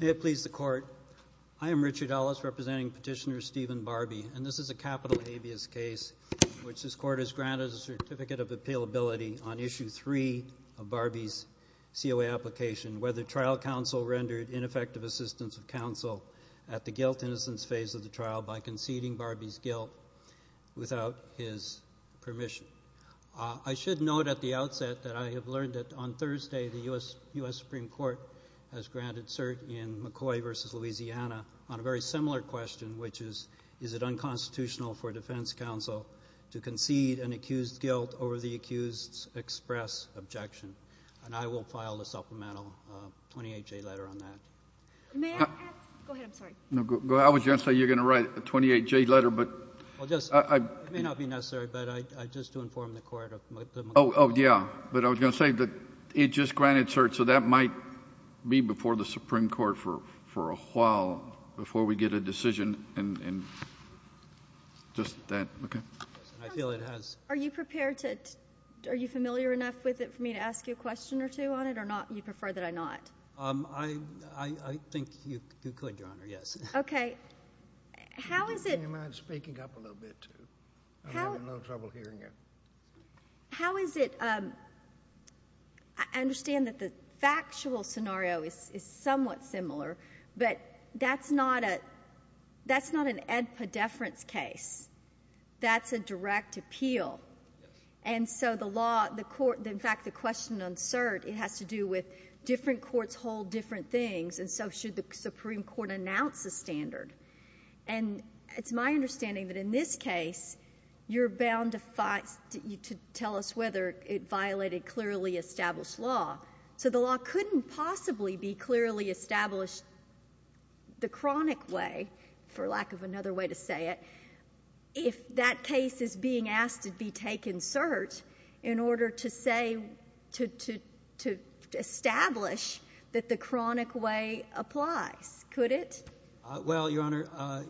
May it please the Court, I am Richard Ellis, representing Petitioner Stephen Barbee, and this is a capital habeas case in which this Court has granted a certificate of appealability on Issue 3 of Barbee's COA application, whether trial counsel rendered ineffective assistance of counsel at the guilt-innocence phase of the trial by conceding Barbee's guilt without his permission. I should note at the outset that I have learned that on Thursday the U.S. Supreme Court has granted cert in McCoy v. Louisiana on a very similar question, which is, is it unconstitutional for a defense counsel to concede an accused guilt over the accused's express objection? And I will file a supplemental 28J letter on that. May I ask — go ahead, I'm sorry. No, go ahead. I was going to say you're going to write a 28J letter, but — Well, just — it may not be necessary, but I — just to inform the Court of the McCoy — Oh, oh, yeah. But I was going to say that it just granted cert, so that might be before the Supreme Court for a while before we get a decision in just that. Okay? I feel it has — Are you prepared to — are you familiar enough with it for me to ask you a question or two on it, or not — you prefer that I not? I — I think you could, Your Honor, yes. Okay. How is it — Can you mind speaking up a little bit, too? I'm having a little trouble hearing you. How is it — I understand that the factual scenario is somewhat similar, but that's not a — that's not an ed pedeference case. That's a direct appeal. And so the law, the court — in fact, the question on cert, it has to do with different courts hold different things, and so should the Supreme Court announce a standard. And it's my understanding that in this case, you're bound to — to tell us whether it violated clearly established law. So the law couldn't possibly be clearly established the chronic way, for lack of another way to say it, if that case is being asked to be taken cert in order to say — to establish that the chronic way applies, could it? Well, Your Honor,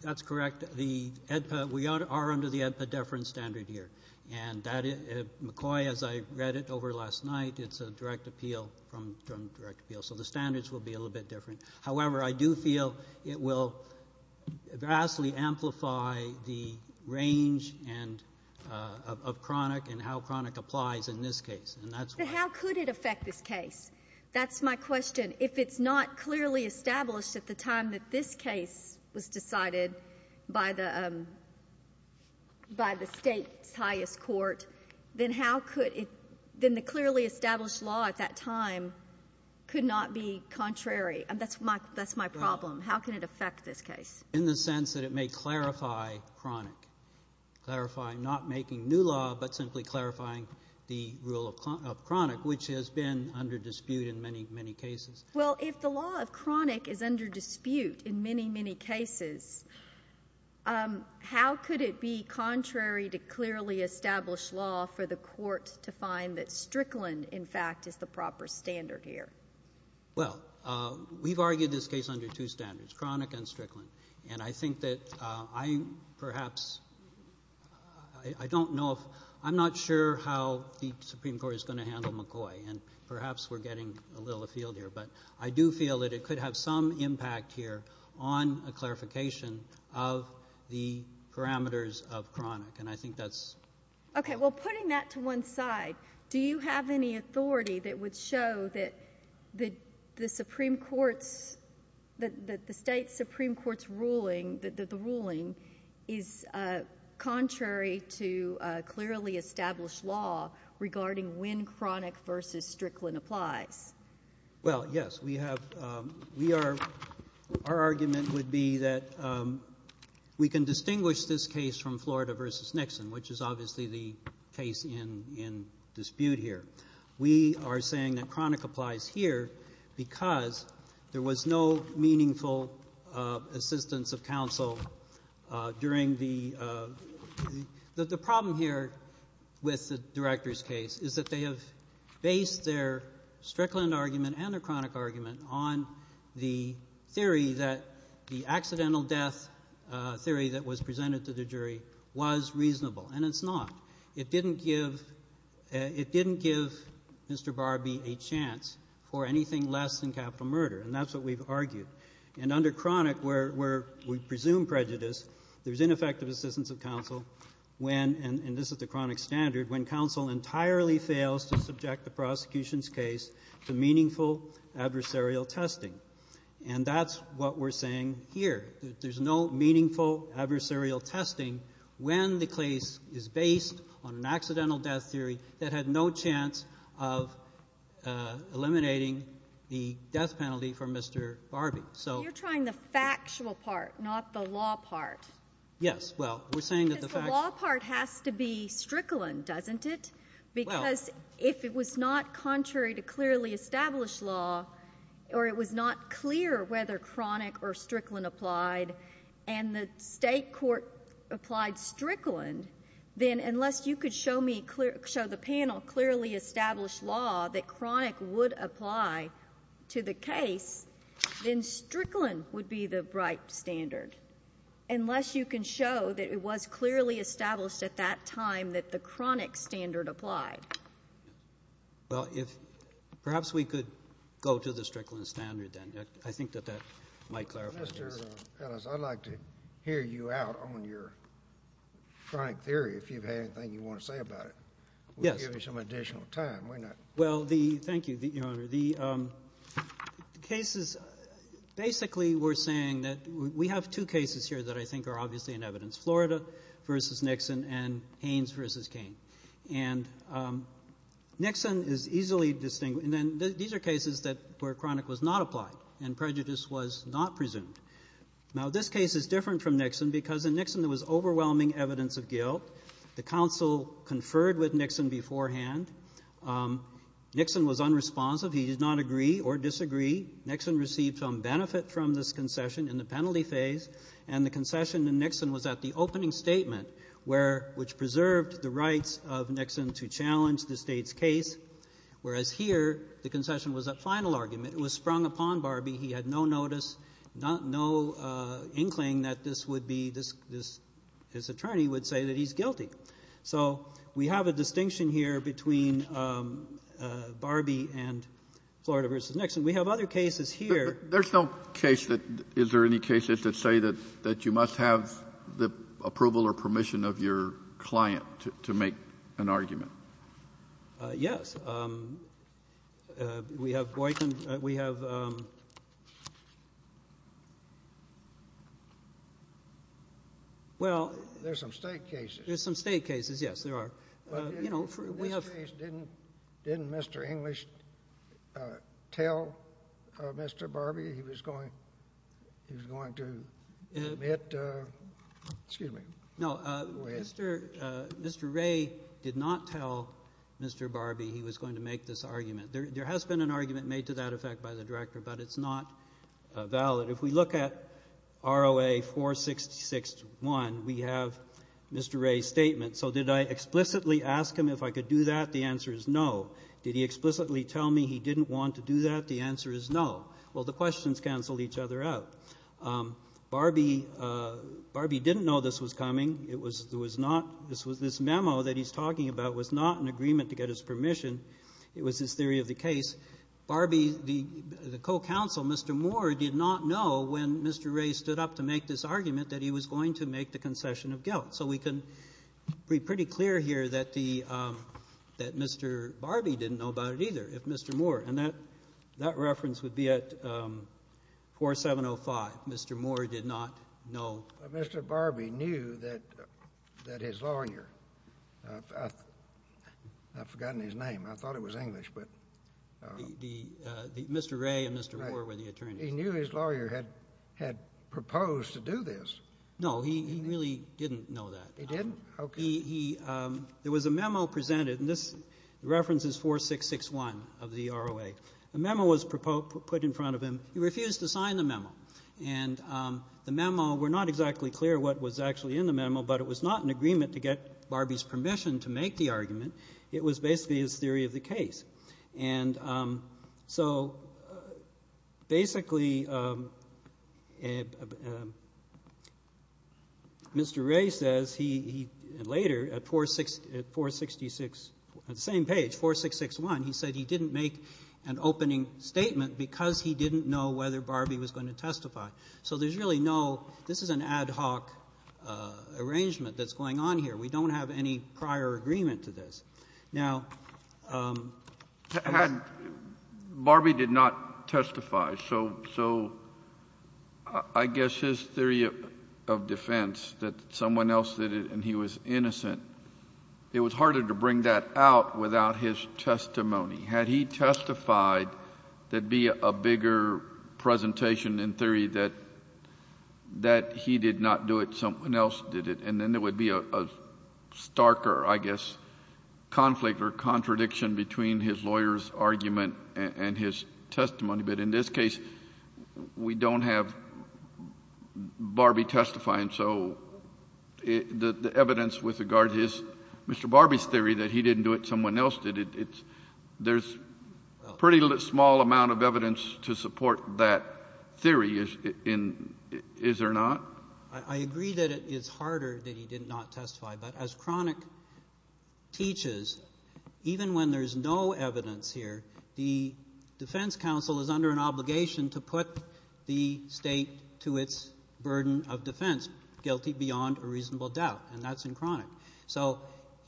that's correct. The ed ped — we are under the ed pedeference standard here. And that — McCoy, as I read it over last night, it's a direct appeal from — from direct appeal. So the standards will be a little bit different. However, I do feel it will vastly amplify the range and — of chronic and how chronic applies in this case. And that's why — So how could it affect this case? That's my question. If it's not clearly established at the time that this case was decided by the — by the State's highest court, then how could it — then the clearly established law at that time could not be contrary. And that's my — that's my problem. How can it affect this case? In the sense that it may clarify chronic, clarify not making new law, but simply clarifying the rule of chronic, which has been under dispute in many, many cases. Well, if the law of chronic is under dispute in many, many cases, how could it be contrary to clearly established law for the Court to find that Strickland, in fact, is the proper standard here? Well, we've argued this case under two standards, chronic and Strickland. And I think that I perhaps — I don't know if — I'm not sure how the Supreme Court is going to handle McCoy. And perhaps we're getting a little afield here. But I do feel that it could have some impact here on a clarification of the parameters of chronic. And I think that's — Okay. Well, putting that to one side, do you have any authority that would show that the Supreme Court's — that the State Supreme Court's ruling — that the ruling is contrary to clearly established law regarding when chronic versus Strickland applies? Well, yes. We have — we are — our argument would be that we can distinguish this case from Florida versus Nixon, which is obviously the case in dispute here. We are saying that because there was no meaningful assistance of counsel during the — that the problem here with the Director's case is that they have based their Strickland argument and their chronic argument on the theory that the accidental death theory that was presented to the jury was reasonable. And it's not. It didn't give — it didn't give Mr. Barbee a chance for anything less than capital murder. And that's what we've argued. And under chronic, where — where we presume prejudice, there's ineffective assistance of counsel when — and this is the chronic standard — when counsel entirely fails to subject the prosecution's case to meaningful adversarial testing. And that's what we're saying here, that there's no meaningful adversarial testing when the case is based on an accidental death theory that had no chance of eliminating the death penalty for Mr. Barbee. So — You're trying the factual part, not the law part. Yes. Well, we're saying that the factual — Because the law part has to be Strickland, doesn't it? Well — Because if it was not contrary to clearly established law or it was not clear whether chronic or Strickland applied, and the State court applied Strickland, then unless you could show me clear — show the panel clearly established law that chronic would apply to the case, then Strickland would be the right standard, unless you can show that it was clearly established at that time that the chronic standard applied. Well, if — perhaps we could go to the Strickland standard, then. I think that that might clarify things. Mr. Ellis, I'd like to hear you out on your chronic theory, if you have anything you want to say about it. Yes. We'll give you some additional time, why not? Well, the — thank you, Your Honor. The cases — basically, we're saying that we have two cases here that I think are obviously in evidence, Florida v. Nixon and Haynes v. King. And Nixon is easily — and then these are cases that — where chronic was not applied and prejudice was not presumed. Now, this case is different from Nixon because in Nixon there was overwhelming evidence of guilt. The counsel conferred with Nixon beforehand. Nixon was unresponsive. He did not agree or disagree. Nixon received some benefit from this concession in the penalty phase, and the concession in Nixon was at the opening statement, where — which preserved the rights of Nixon to challenge the State's case, whereas here, the concession was at final argument. It was sprung upon Barbee. He had no notice, no — no inkling that this would be — this — this — his attorney would say that he's guilty. So we have a distinction here between Barbee and Florida v. Nixon. We have other cases here. There's no case that — is there any cases that say that — that you must have the approval or permission of your client to — to make an argument? Yes. We have Boykin. We have — well — There's some State cases. There's some State cases, yes, there are. You know, we have — Didn't Mr. English tell Mr. Barbee he was going — he was going to admit — Excuse me. No, Mr. Ray did not tell Mr. Barbee he was going to make this argument. There has been an argument made to that effect by the director, but it's not valid. If we look at ROA-466-1, we have Mr. Ray's statement. So did I explicitly ask him if I could do that? The answer is no. Did he explicitly tell me he didn't want to do that? The answer is no. Well, the questions canceled each other out. Barbee — Barbee didn't know this was coming. It was — there was not — this was — this memo that he's talking about was not an agreement to get his permission. It was his theory of the case. Barbee, the co-counsel, Mr. Moore, did not know when Mr. Ray stood up to make this argument that he was going to make the concession of guilt. So we can be pretty clear here that the — that Mr. Barbee didn't know about it either, if Mr. Moore. And that reference would be at 4705. Mr. Moore did not know. But Mr. Barbee knew that his lawyer — I've forgotten his name. I thought it was English, but — The — Mr. Ray and Mr. Moore were the attorneys. He knew his lawyer had proposed to do this. No, he really didn't know that. He didn't? Okay. He — there was a memo presented, and this reference is 4661 of the ROA. The memo was put in front of him. He refused to sign the memo. And the memo — we're not exactly clear what was actually in the memo, but it was not an agreement to get Barbee's permission to make the argument. It was basically his theory of the case. And so, basically, Mr. Ray says he — later, at 466 — at the same page, 4661, he said he didn't make an opening statement because he didn't know whether Barbee was going to testify. So there's really no — this is an ad hoc arrangement that's going on here. We don't have any prior agreement to this. Now — Had — Barbee did not testify, so I guess his theory of defense that someone else did it and he was innocent, it was harder to bring that out without his testimony. Had he testified, there'd be a bigger presentation in theory that he did not do it, someone else did it, and then there would be a starker, I guess, conflict or contradiction between his lawyer's argument and his testimony. But in this case, we don't have Barbee testifying, so the evidence with regard to his — Mr. Barbee's theory that he didn't do it, someone else did it, it's — there's a pretty small amount of evidence to support that theory in — is there not? I agree that it is harder that he did not testify, but as Cronick teaches, even when there's no evidence here, the defense counsel is under an obligation to put the state to its burden of defense, guilty beyond a reasonable doubt, and that's in Cronick. So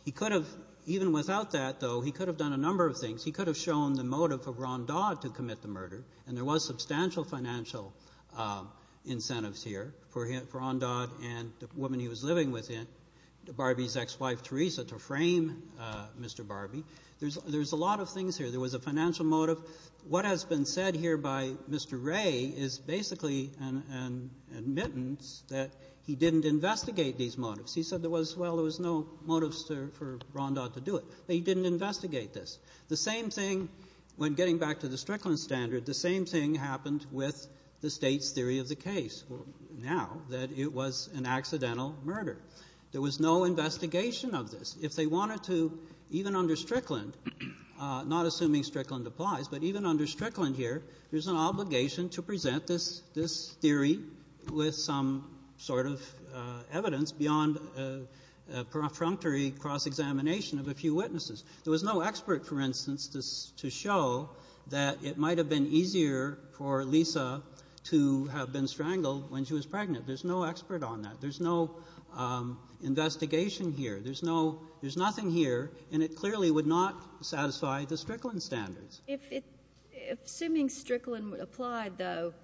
he could have — even without that, though, he could have done a number of things. He could have shown the motive of Ron Dodd to commit the murder, and there was substantial financial incentives here for Ron Dodd and the woman he was living with, Barbee's ex-wife Teresa, to frame Mr. Barbee. There's a lot of things here. There was a financial motive. What has been said here by Mr. Ray is basically an admittance that he didn't investigate these motives. He said there was — well, there was no motives for Ron Dodd to do it, but he didn't investigate this. The same thing — when getting back to the Strickland standard, the same thing happened with the state's theory of the case, now that it was an accidental murder. There was no investigation of this. If they wanted to, even under Strickland, not assuming Strickland applies, but even under Strickland here, there's an obligation to present this theory with some sort of evidence beyond a perfunctory cross-examination of a few witnesses. There was no expert, for instance, to show that it might have been easier for Lisa to have been strangled when she was pregnant. There's no expert on that. There's no investigation here. There's no — there's nothing here, and it clearly would not satisfy the Strickland standards. If assuming Strickland applied, though,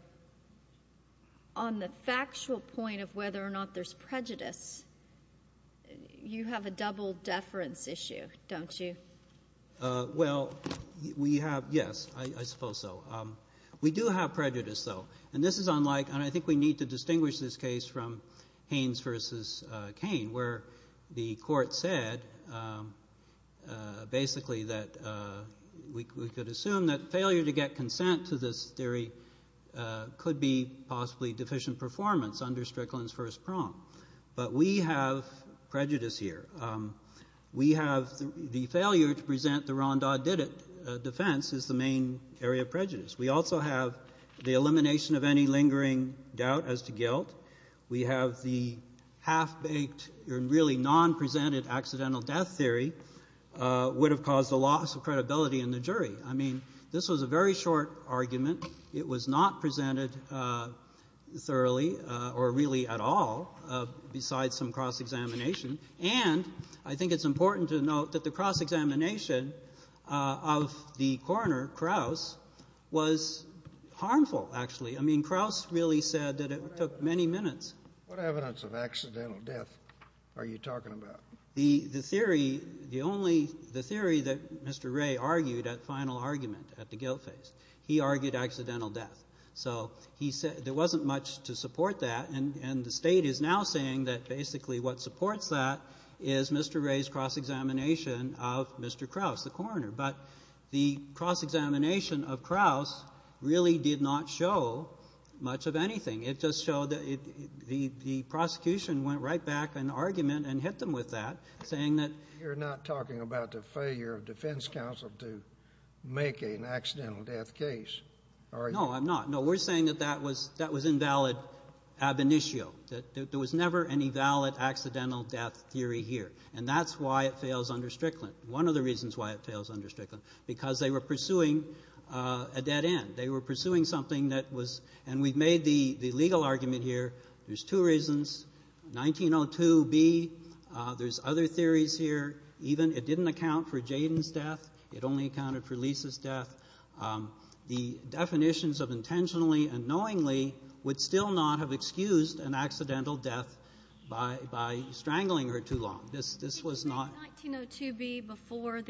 on the factual point of whether or not there's prejudice, you have a double-deference issue, don't you? Well, we have — yes, I suppose so. We do have prejudice, though, and this is unlike — and I think we need to distinguish this case from Haynes v. Cain, where the court said basically that we could assume that failure to get consent to this theory could be possibly deficient performance under Strickland's first prong. But we have prejudice here. We have — the failure to present the Rondau-Didet defense is the main area of prejudice. We also have the elimination of any lingering doubt as to guilt. We have the half-baked and really non-presented accidental death theory would have caused a loss of credibility in the jury. I mean, this was a very short argument. It was not presented thoroughly or really at all besides some cross-examination. And I think it's important to note that the cross-examination of the coroner, Krauss, was harmful, actually. I mean, Krauss really said that it took many minutes. What evidence of accidental death are you talking about? The theory, the only — the theory that Mr. Ray argued at final argument at the guilt phase, he argued accidental death. So he said there wasn't much to support that, and the State is now saying that basically what supports that is Mr. Ray's cross-examination of Mr. Krauss, the coroner. But the cross-examination of Krauss really did not show much of anything. It just showed that the prosecution went right back in argument and hit them with that, saying that — You're not talking about the failure of defense counsel to make an accidental death case, are you? No, I'm not. No, we're saying that that was invalid ab initio, that there was never any valid accidental death theory here. And that's why it fails under Strickland. One of the reasons why it fails under Strickland, because they were pursuing a dead end. They were pursuing something that was — and we've made the legal argument here. There's two reasons. 1902b, there's other theories here. Even — it didn't account for Jayden's death. It only accounted for Lisa's death. The definitions of intentionally and knowingly would still not have excused an accidental death by strangling her too long. This was not — Did you say 1902b before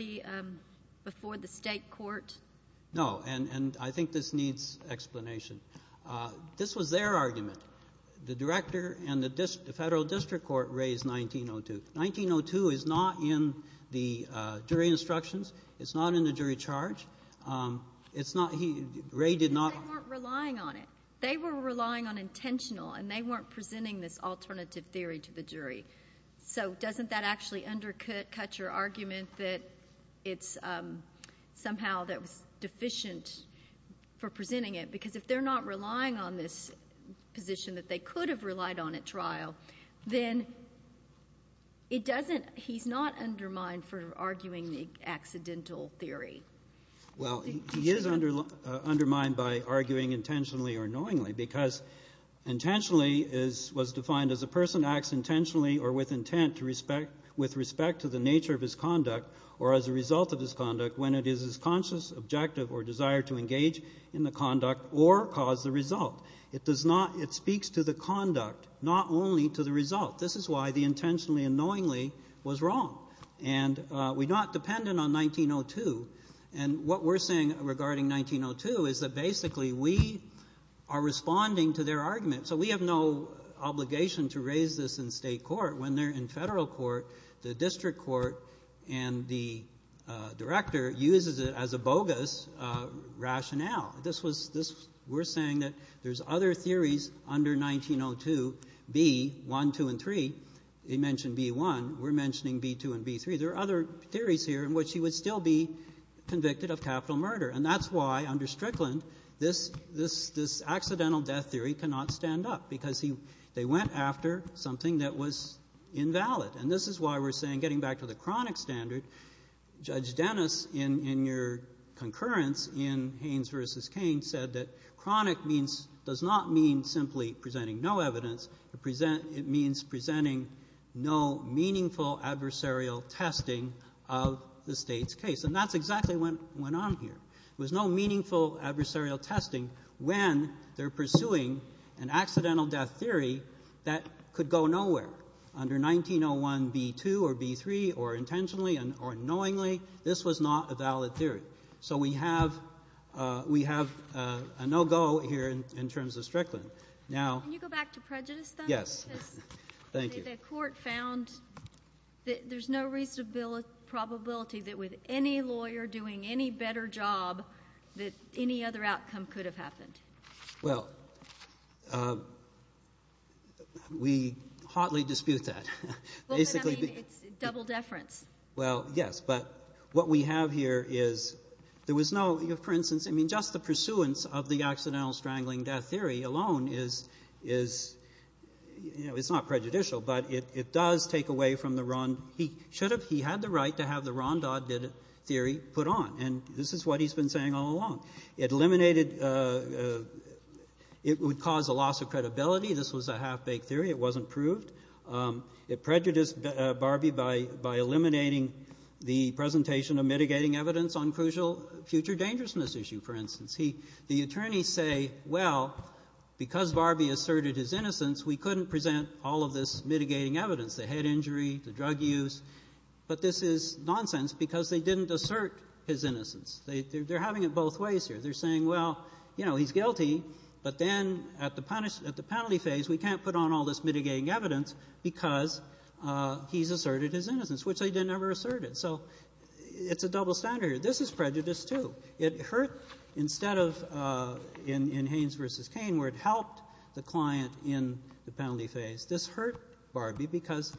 the state court? No. And I think this needs explanation. This was their argument. The director and the federal district court raised 1902. 1902 is not in the jury instructions. It's not in the jury charge. It's not — Ray did not — Because they weren't relying on it. They were relying on intentional, and they weren't presenting this alternative theory to the jury. So doesn't that actually undercut your argument that it's somehow deficient for presenting it? Because if they're not relying on this position that they could have relied on at trial, then it doesn't — he's not undermined for arguing the accidental theory. Well, he is undermined by arguing intentionally or knowingly, because intentionally was defined as a person acts intentionally or with intent with respect to the nature of his conduct or as a result of his conduct when it is his conscious objective or desire to engage in the conduct or cause the result. It does not — it speaks to the conduct, not only to the result. This is why the intentionally and knowingly was wrong. And we're not dependent on 1902. And what we're saying regarding 1902 is that basically we are responding to their argument. So we have no obligation to raise this in state court. When they're in federal court, the district court and the director uses it as a bogus rationale. This was — we're saying that there's other theories under 1902, B1, 2, and 3. He mentioned B1. We're mentioning B2 and B3. There are other theories here in which he would still be convicted of capital murder. And that's why, under Strickland, this accidental death theory cannot stand up, because they went after something that was invalid. And this is why we're saying, getting back to the chronic standard, Judge Dennis, in your concurrence in Haynes v. Kane, said that chronic means — does not mean simply presenting no evidence. It means presenting no meaningful adversarial testing of the State's case. And that's exactly what went on here. There was no meaningful adversarial testing when they're pursuing an accidental death theory that could go nowhere. Under 1901, B2 or B3, or intentionally or knowingly, this was not a valid theory. So we have — we have a no-go here in terms of Strickland. Now — Can you go back to prejudice, though? Yes. Thank you. The court found that there's no reasonable probability that with any lawyer doing any better job that any other outcome could have happened. Well, we hotly dispute that. Basically — Well, but, I mean, it's double deference. Well, yes. But what we have here is — there was no — for instance, I mean, just the pursuance of the accidental strangling death theory alone is — you know, it's not prejudicial, but it does take away from the Ron — he should have — he had the right to have the Ron Dodd theory put on. And this is what he's been saying all along. It eliminated — it would cause a loss of credibility. This was a half-baked theory. It wasn't proved. It prejudiced Barbee by eliminating the presentation of mitigating evidence on crucial future dangerousness issue, for instance. The attorneys say, well, because Barbee asserted his innocence, we couldn't present all of this mitigating evidence, the head injury, the drug use. But this is nonsense because they didn't assert his innocence. They're having it both ways here. They're saying, well, you know, he's guilty, but then at the penalty phase, we can't put on all this mitigating evidence because he's asserted his innocence, which they never asserted. So it's a double standard here. This is prejudice, too. It hurt instead of in Haynes v. Cain where it helped the client in the penalty phase. This hurt Barbee because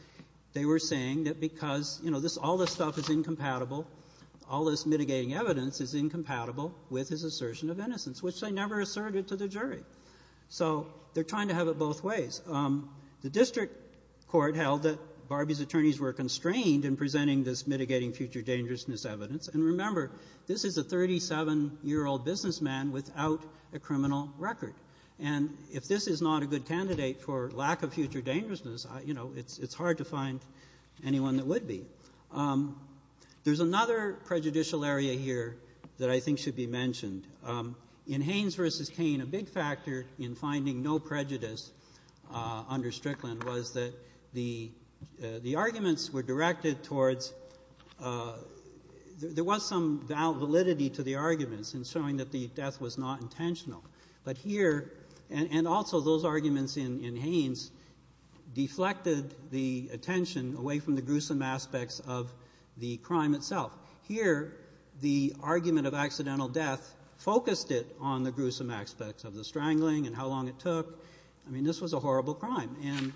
they were saying that because, you know, this — all this stuff is incompatible, all this mitigating evidence is incompatible with his assertion of innocence, which they never asserted to the jury. So they're trying to have it both ways. The district court held that Barbee's attorneys were constrained in presenting this mitigating future dangerousness evidence. And remember, this is a 37-year-old businessman without a criminal record. And if this is not a good candidate for lack of future dangerousness, you know, it's hard to find anyone that would be. There's another prejudicial area here that I think should be mentioned. In Haynes v. Cain, a big factor in finding no prejudice under Strickland was that the arguments were directed towards — there was some validity to the arguments in showing that the death was not intentional. But here — and also those arguments in Haynes deflected the attention away from the gruesome aspects of the crime itself. Here, the argument of accidental death focused it on the gruesome aspects of the strangling and how long it took. I mean, this was a horrible crime. And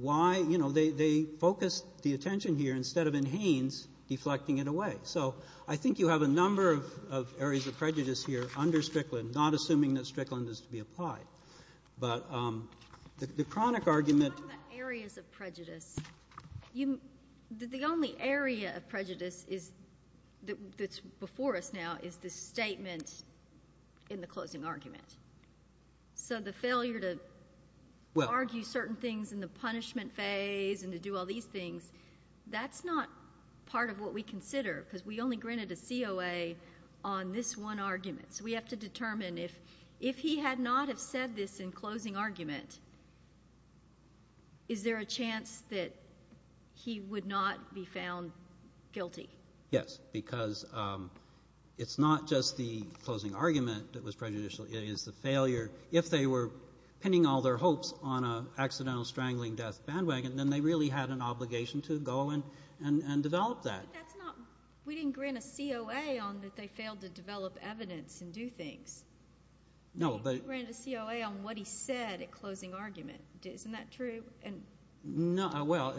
why — you know, they focused the attention here instead of in Haynes deflecting it away. So I think you have a number of areas of prejudice here under Strickland, not assuming that Strickland is to be applied. But the chronic argument — You're talking about areas of prejudice. The only area of prejudice that's before us now is the statement in the closing argument. So the failure to argue certain things in the punishment phase and to do all these things, that's not part of what we consider because we only granted a COA on this one argument. So we have to determine if he had not have said this in closing argument, is there a chance that he would not be found guilty? Yes, because it's not just the closing argument that was prejudicial. If they were pinning all their hopes on an accidental strangling death bandwagon, then they really had an obligation to go and develop that. But that's not — we didn't grant a COA on that they failed to develop evidence and do things. No, but — We didn't grant a COA on what he said at closing argument. Isn't that true? No, well,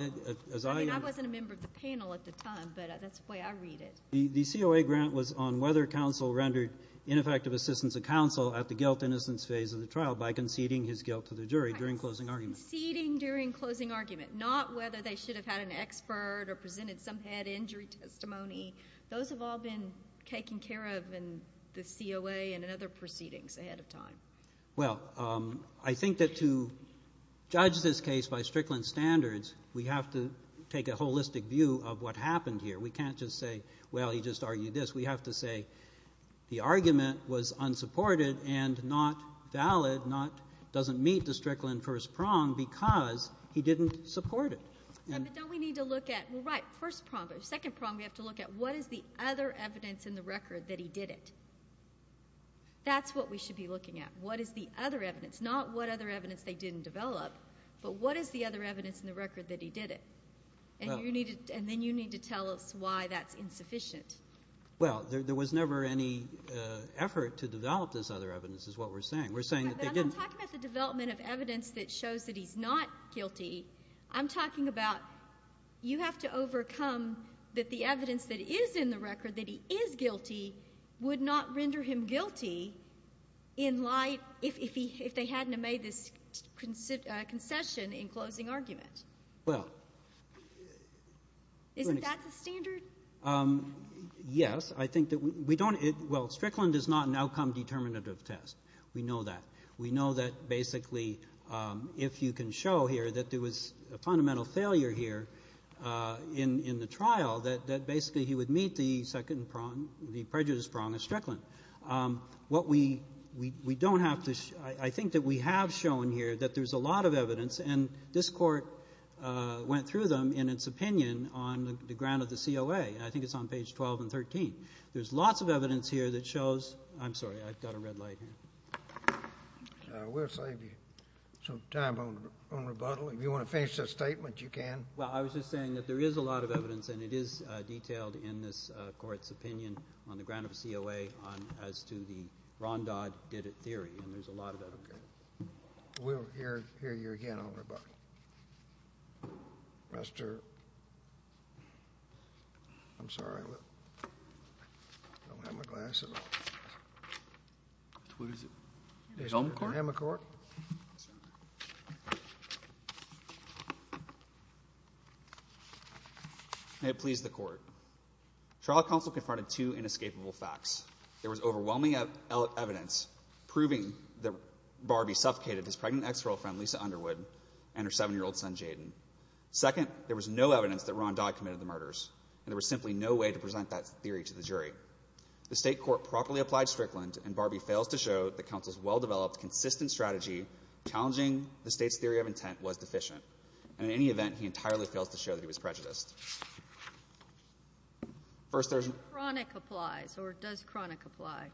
as I — I mean, I wasn't a member of the panel at the time, but that's the way I read it. The COA grant was on whether counsel rendered ineffective assistance of counsel at the guilt-innocence phase of the trial by conceding his guilt to the jury during closing argument. Conceding during closing argument, not whether they should have had an expert or presented some head injury testimony. Those have all been taken care of in the COA and in other proceedings ahead of time. Well, I think that to judge this case by Strickland standards, we have to take a holistic view of what happened here. We can't just say, well, he just argued this. We have to say the argument was unsupported and not valid, doesn't meet the Strickland first prong because he didn't support it. Yeah, but don't we need to look at — well, right, first prong. But second prong, we have to look at what is the other evidence in the record that he did it. That's what we should be looking at, what is the other evidence. Not what other evidence they didn't develop, but what is the other evidence in the record that he did it. And then you need to tell us why that's insufficient. Well, there was never any effort to develop this other evidence is what we're saying. We're saying that they didn't. I'm not talking about the development of evidence that shows that he's not guilty. I'm talking about you have to overcome that the evidence that is in the record that he is guilty would not render him guilty in light if they hadn't made this concession in closing argument. Well — Isn't that the standard? Yes. I think that we don't — well, Strickland is not an outcome-determinative test. We know that. We know that basically if you can show here that there was a fundamental failure here in the trial, that basically he would meet the second prong, the prejudice prong of Strickland. What we don't have to — I think that we have shown here that there's a lot of evidence, and this court went through them in its opinion on the ground of the COA. I think it's on page 12 and 13. There's lots of evidence here that shows — I'm sorry. I've got a red light here. We'll save you some time on rebuttal. If you want to finish that statement, you can. Well, I was just saying that there is a lot of evidence, and it is detailed in this court's opinion on the ground of the COA as to the Rondod did-it theory, and there's a lot of evidence. Okay. We'll hear you again on rebuttal. Mr. — I'm sorry. I don't have my glasses on. What is it? Mr. McCork? May it please the Court. Trial counsel confronted two inescapable facts. There was overwhelming evidence proving that Barbie suffocated his pregnant ex-girlfriend, Lisa Underwood, and her 7-year-old son, Jayden. Second, there was no evidence that Rondod committed the murders, and there was simply no way to present that theory to the jury. The state court properly applied Strickland, and Barbie fails to show that counsel's well-developed, consistent strategy challenging the state's theory of intent was deficient. And in any event, he entirely fails to show that he was prejudiced. First, there's — When chronic applies, or does chronic apply?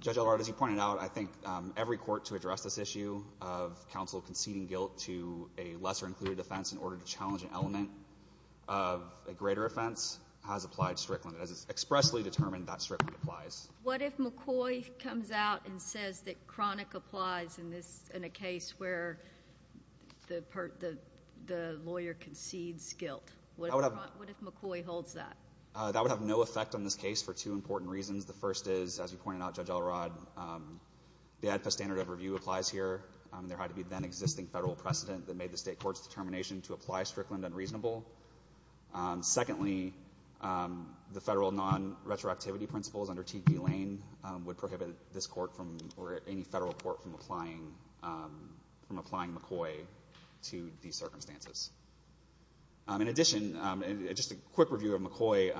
Judge Elrod, as you pointed out, I think every court to address this issue of counsel conceding guilt to a lesser-included offense in order to challenge an element of a greater offense has applied Strickland. It is expressly determined that Strickland applies. What if McCoy comes out and says that chronic applies in a case where the lawyer concedes guilt? What if McCoy holds that? That would have no effect on this case for two important reasons. The first is, as you pointed out, Judge Elrod, the ADPES standard of review applies here. There had to be then-existing federal precedent that made the state court's determination to apply Strickland unreasonable. Secondly, the federal non-retroactivity principles under T.D. Lane would prohibit this court from — or any federal court from applying McCoy to these circumstances. In addition, just a quick review of McCoy,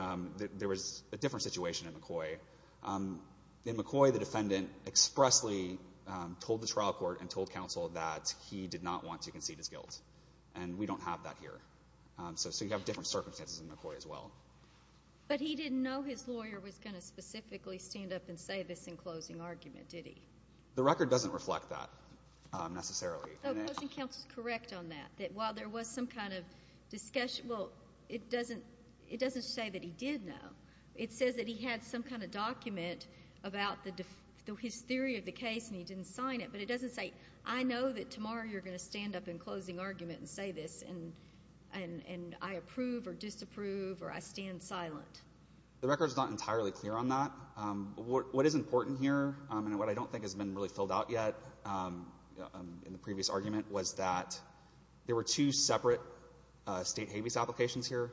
there was a different situation in McCoy. In McCoy, the defendant expressly told the trial court and told counsel that he did not want to concede his guilt. And we don't have that here. So you have different circumstances in McCoy as well. But he didn't know his lawyer was going to specifically stand up and say this in closing argument, did he? The record doesn't reflect that necessarily. So closing counsel is correct on that, that while there was some kind of discussion — Well, it doesn't say that he did know. It says that he had some kind of document about his theory of the case, and he didn't sign it. But it doesn't say, I know that tomorrow you're going to stand up in closing argument and say this, and I approve or disapprove or I stand silent. The record is not entirely clear on that. What is important here, and what I don't think has been really filled out yet in the previous argument, was that there were two separate State habeas applications here.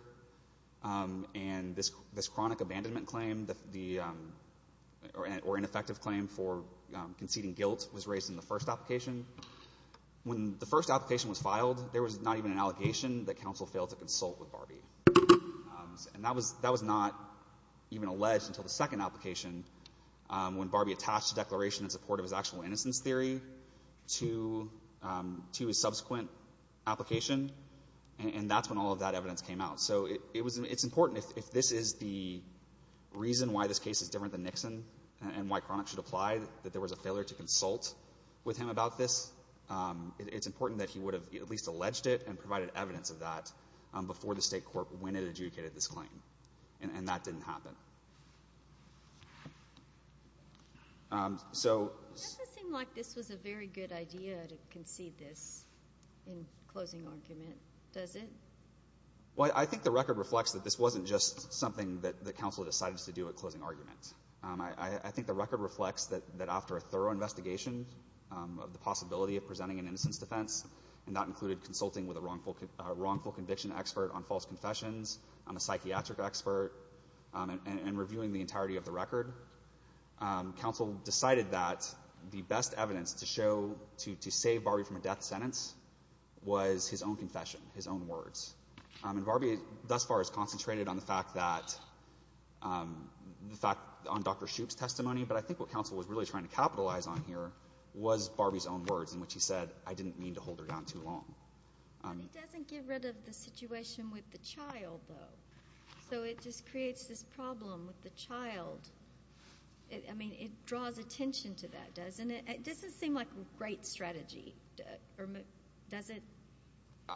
And this chronic abandonment claim, or ineffective claim for conceding guilt, was raised in the first application. When the first application was filed, there was not even an allegation that counsel failed to consult with Barbie. And that was not even alleged until the second application, when Barbie attached a declaration in support of his actual innocence theory to his subsequent application. And that's when all of that evidence came out. So it's important, if this is the reason why this case is different than Nixon and why chronic should apply, that there was a failure to consult with him about this, it's important that he would have at least alleged it and provided evidence of that before the State court, when it adjudicated this claim. And that didn't happen. So... It doesn't seem like this was a very good idea to concede this in closing argument, does it? Well, I think the record reflects that this wasn't just something that counsel decided to do at closing argument. I think the record reflects that after a thorough investigation of the possibility of presenting an innocence defense, and that included consulting with a wrongful conviction expert on false confessions, a psychiatric expert, and reviewing the entirety of the record, counsel decided that the best evidence to show, to save Barbie from a death sentence, was his own confession, his own words. And Barbie thus far has concentrated on the fact that, on Dr. Shoup's testimony, but I think what counsel was really trying to capitalize on here was Barbie's own words, in which he said, I didn't mean to hold her down too long. But it doesn't get rid of the situation with the child, though. So it just creates this problem with the child. I mean, it draws attention to that, doesn't it? It doesn't seem like a great strategy, does it?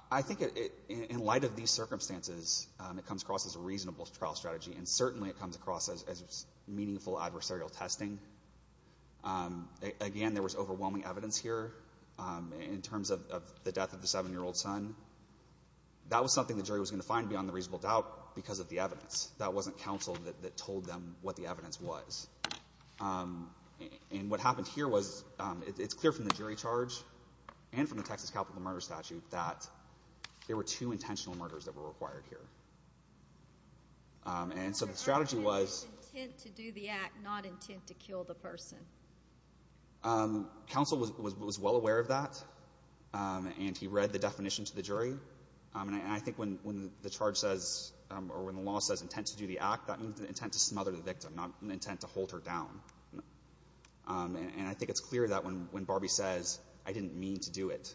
I think in light of these circumstances, it comes across as a reasonable trial strategy, and certainly it comes across as meaningful adversarial testing. Again, there was overwhelming evidence here in terms of the death of the 7-year-old son. That was something the jury was going to find beyond a reasonable doubt because of the evidence. That wasn't counsel that told them what the evidence was. And what happened here was it's clear from the jury charge and from the Texas capital murder statute that there were two intentional murders that were required here. And so the strategy was... The charge was intent to do the act, not intent to kill the person. Counsel was well aware of that, and he read the definition to the jury. And I think when the charge says, or when the law says intent to do the act, that means the intent to smother the victim, not the intent to hold her down. And I think it's clear that when Barbie says, I didn't mean to do it,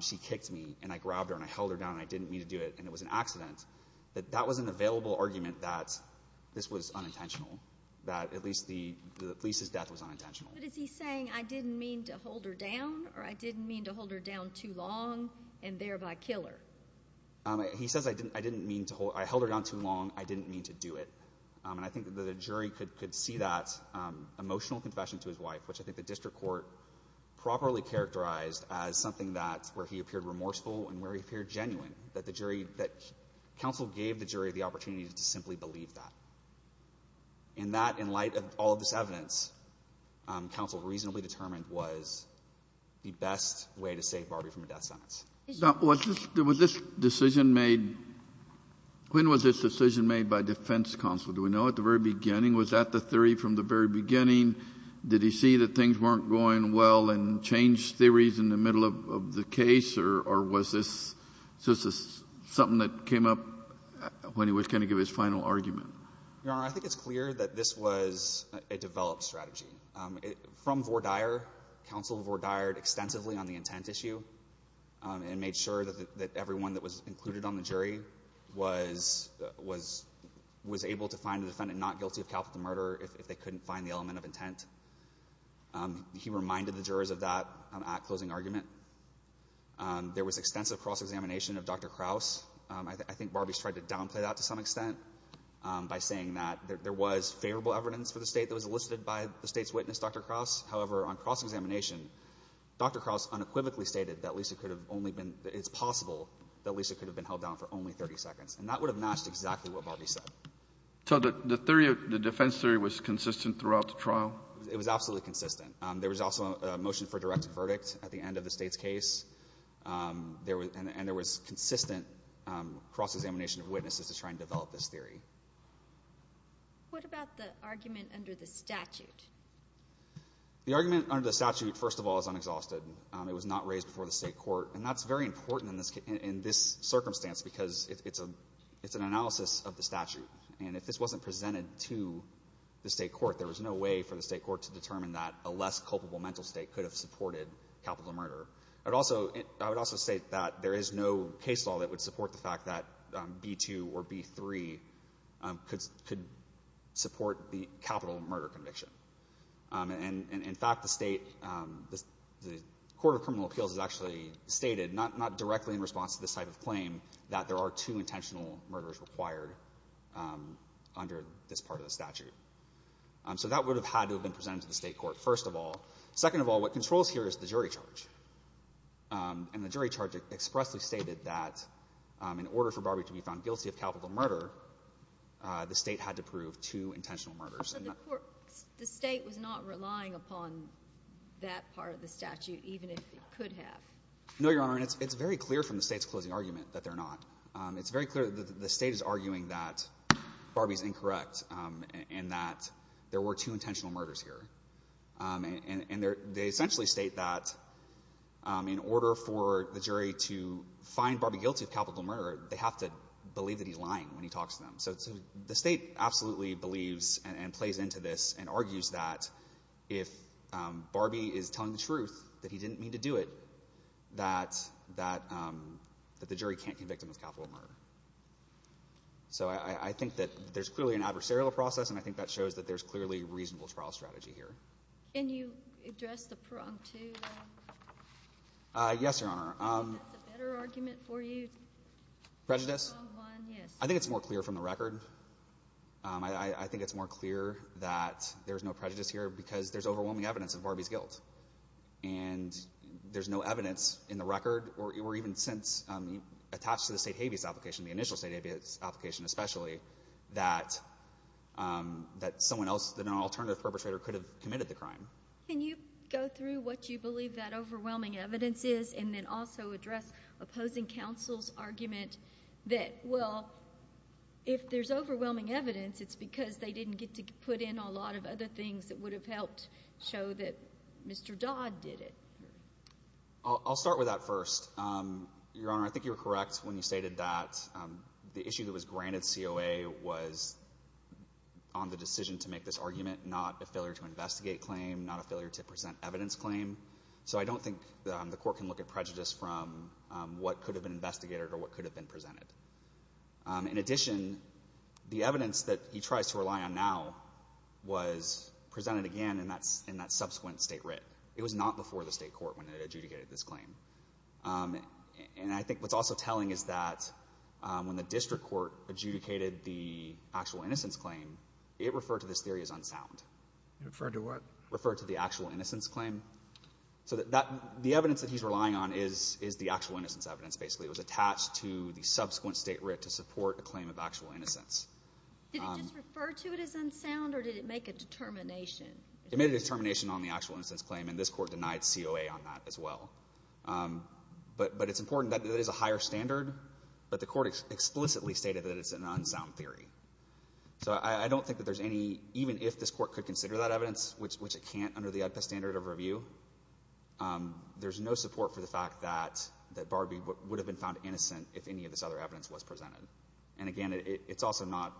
she kicked me, and I grabbed her, and I held her down, and I didn't mean to do it, and it was an accident, that that was an available argument that this was unintentional, that at least the police's death was unintentional. But is he saying, I didn't mean to hold her down, or I didn't mean to hold her down too long and thereby kill her? He says, I held her down too long, I didn't mean to do it. And I think the jury could see that emotional confession to his wife, which I think the district court properly characterized as something that, where he appeared remorseful and where he appeared genuine, that the jury, that counsel gave the jury the opportunity to simply believe that. And that, in light of all of this evidence, counsel reasonably determined was the best way to save Barbie from a death sentence. Now, was this, was this decision made, when was this decision made by defense counsel? Do we know at the very beginning? Was that the theory from the very beginning? Did he see that things weren't going well and change theories in the middle of the case? Or was this just something that came up when he was going to give his final argument? Your Honor, I think it's clear that this was a developed strategy. From Vore Dyer, counsel Vore Dyered extensively on the intent issue and made sure that everyone that was included on the jury was, was, was able to find the defendant not guilty of capital murder if they couldn't find the element of intent. He reminded the jurors of that at closing argument. There was extensive cross-examination of Dr. Kraus. I think Barbie's tried to downplay that to some extent by saying that there was favorable evidence for the State that was elicited by the State's witness, Dr. Kraus. However, on cross-examination, Dr. Kraus unequivocally stated that Lisa could have only been, it's possible that Lisa could have been held down for only 30 seconds. And that would have matched exactly what Barbie said. So the theory, the defense theory was consistent throughout the trial? It was absolutely consistent. There was also a motion for a direct verdict at the end of the State's case. There was, and there was consistent cross-examination of witnesses to try and develop this theory. What about the argument under the statute? The argument under the statute, first of all, is unexhausted. It was not raised before the State court. And that's very important in this, in this circumstance because it's a, it's an analysis of the statute. And if this wasn't presented to the State court, there was no way for the State court to determine that a less culpable mental State could have supported capital murder. I would also, I would also state that there is no case law that would support the fact that B-2 or B-3 could, could support the capital murder conviction. And in fact, the State, the Court of Criminal Appeals has actually stated, not directly in response to this type of claim, that there are two intentional murders required under this part of the statute. So that would have had to have been presented to the State court, first of all. Second of all, what controls here is the jury charge. And the jury charge expressly stated that in order for Barbie to be found guilty of capital murder, the State had to prove two intentional murders. So the court, the State was not relying upon that part of the statute, even if it could have? No, Your Honor. And it's very clear from the State's closing argument that they're not. It's very clear that the State is arguing that Barbie's incorrect and that there were two intentional murders here. And they essentially state that in order for the jury to find Barbie guilty of capital murder, they have to believe that he's lying when he talks to them. So the State absolutely believes and plays into this and argues that if Barbie is telling the truth, that he didn't mean to do it, that the jury can't convict him of capital murder. So I think that there's clearly an adversarial process, and I think that shows that there's clearly reasonable trial strategy here. Can you address the prong, too? Yes, Your Honor. Is that a better argument for you? Prejudice? Prong one, yes. I think it's more clear from the record. I think it's more clear that there's no prejudice here because there's overwhelming evidence of Barbie's guilt. And there's no evidence in the record or even since attached to the State habeas application, the initial State habeas application especially, that someone else, that an alternative perpetrator could have committed the crime. Can you go through what you believe that overwhelming evidence is and then also address opposing counsel's argument that, well, if there's overwhelming evidence, it's because they didn't get to put in a lot of other things that would have helped show that Mr. Dodd did it? I'll start with that first. Your Honor, I think you were correct when you stated that the issue that was granted COA was on the decision to make this argument, not a failure to investigate claim, not a failure to present evidence claim. So I don't think the Court can look at prejudice from what could have been investigated or what could have been presented. In addition, the evidence that he tries to rely on now was presented again in that subsequent State writ. It was not before the State court when it adjudicated this claim. And I think what's also telling is that when the district court adjudicated the actual innocence claim, it referred to this theory as unsound. Referred to what? Referred to the actual innocence claim. So the evidence that he's relying on is the actual innocence evidence, basically. It was attached to the subsequent State writ to support a claim of actual innocence. Did it just refer to it as unsound or did it make a determination? It made a determination on the actual innocence claim, and this Court denied COA on that as well. But it's important that there is a higher standard, but the Court explicitly stated that it's an unsound theory. So I don't think that there's any, even if this Court could consider that evidence, which it can't under the ADPES standard of review, there's no support for the fact that Barbee would have been found innocent if any of this other evidence was presented. And again, it's also not,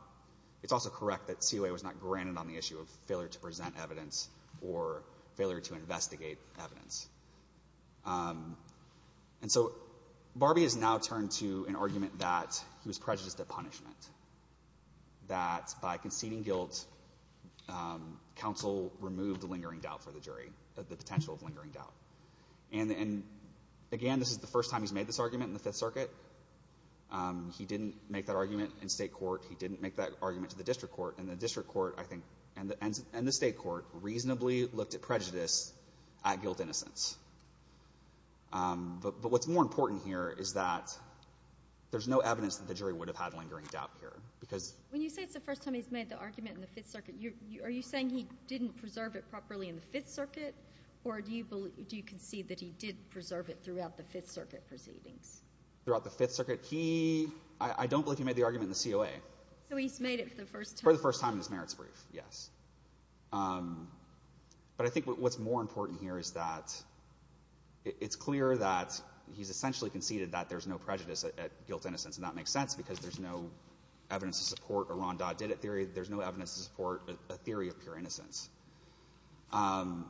it's also correct that COA was not granted on the issue of failure to present evidence or failure to investigate evidence. And so Barbee has now turned to an argument that he was prejudiced at punishment, that by conceding guilt, counsel removed the lingering doubt for the jury, the potential of lingering doubt. And again, this is the first time he's made this argument in the Fifth Circuit. He didn't make that argument in State court. He didn't make that argument to the District court. And the District court, I think, and the State court reasonably looked at prejudice at guilt innocence. But what's more important here is that there's no evidence that the jury would have had lingering doubt here, because... When you say it's the first time he's made the argument in the Fifth Circuit, are you saying he didn't preserve it properly in the Fifth Circuit? Or do you believe, do you concede that he did preserve it throughout the Fifth Circuit proceedings? Throughout the Fifth Circuit? He, I don't believe he made the argument in the COA. So he's made it for the first time? For the first time in his merits brief, yes. But I think what's more important here is that it's clear that he's essentially conceded that there's no prejudice at guilt innocence. And that makes sense, because there's no evidence to support a Ron Dodd-Didditt theory, there's no evidence to support a theory of pure innocence. And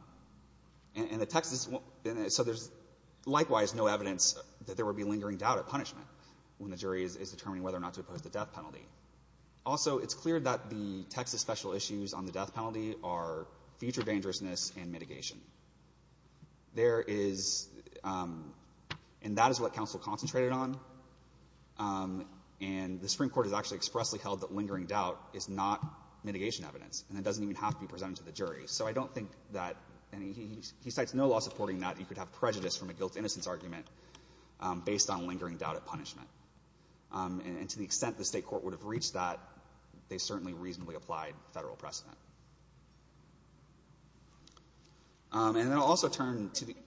the Texas... So there's likewise no evidence that there would be lingering doubt at punishment when the jury is determining whether or not to oppose the death penalty. Also, it's clear that the Texas special issues on the death penalty are future dangerousness and mitigation. There is... And that is what counsel concentrated on. And the Supreme Court has actually expressly held that lingering doubt is not mitigation evidence, and it doesn't even have to be presented to the jury. So I don't think that, and he cites no law supporting that you could have prejudice from a guilt innocence argument based on lingering doubt at punishment. And to the extent the State court would have reached that, they certainly reasonably applied Federal precedent. And then I'll also turn to the... This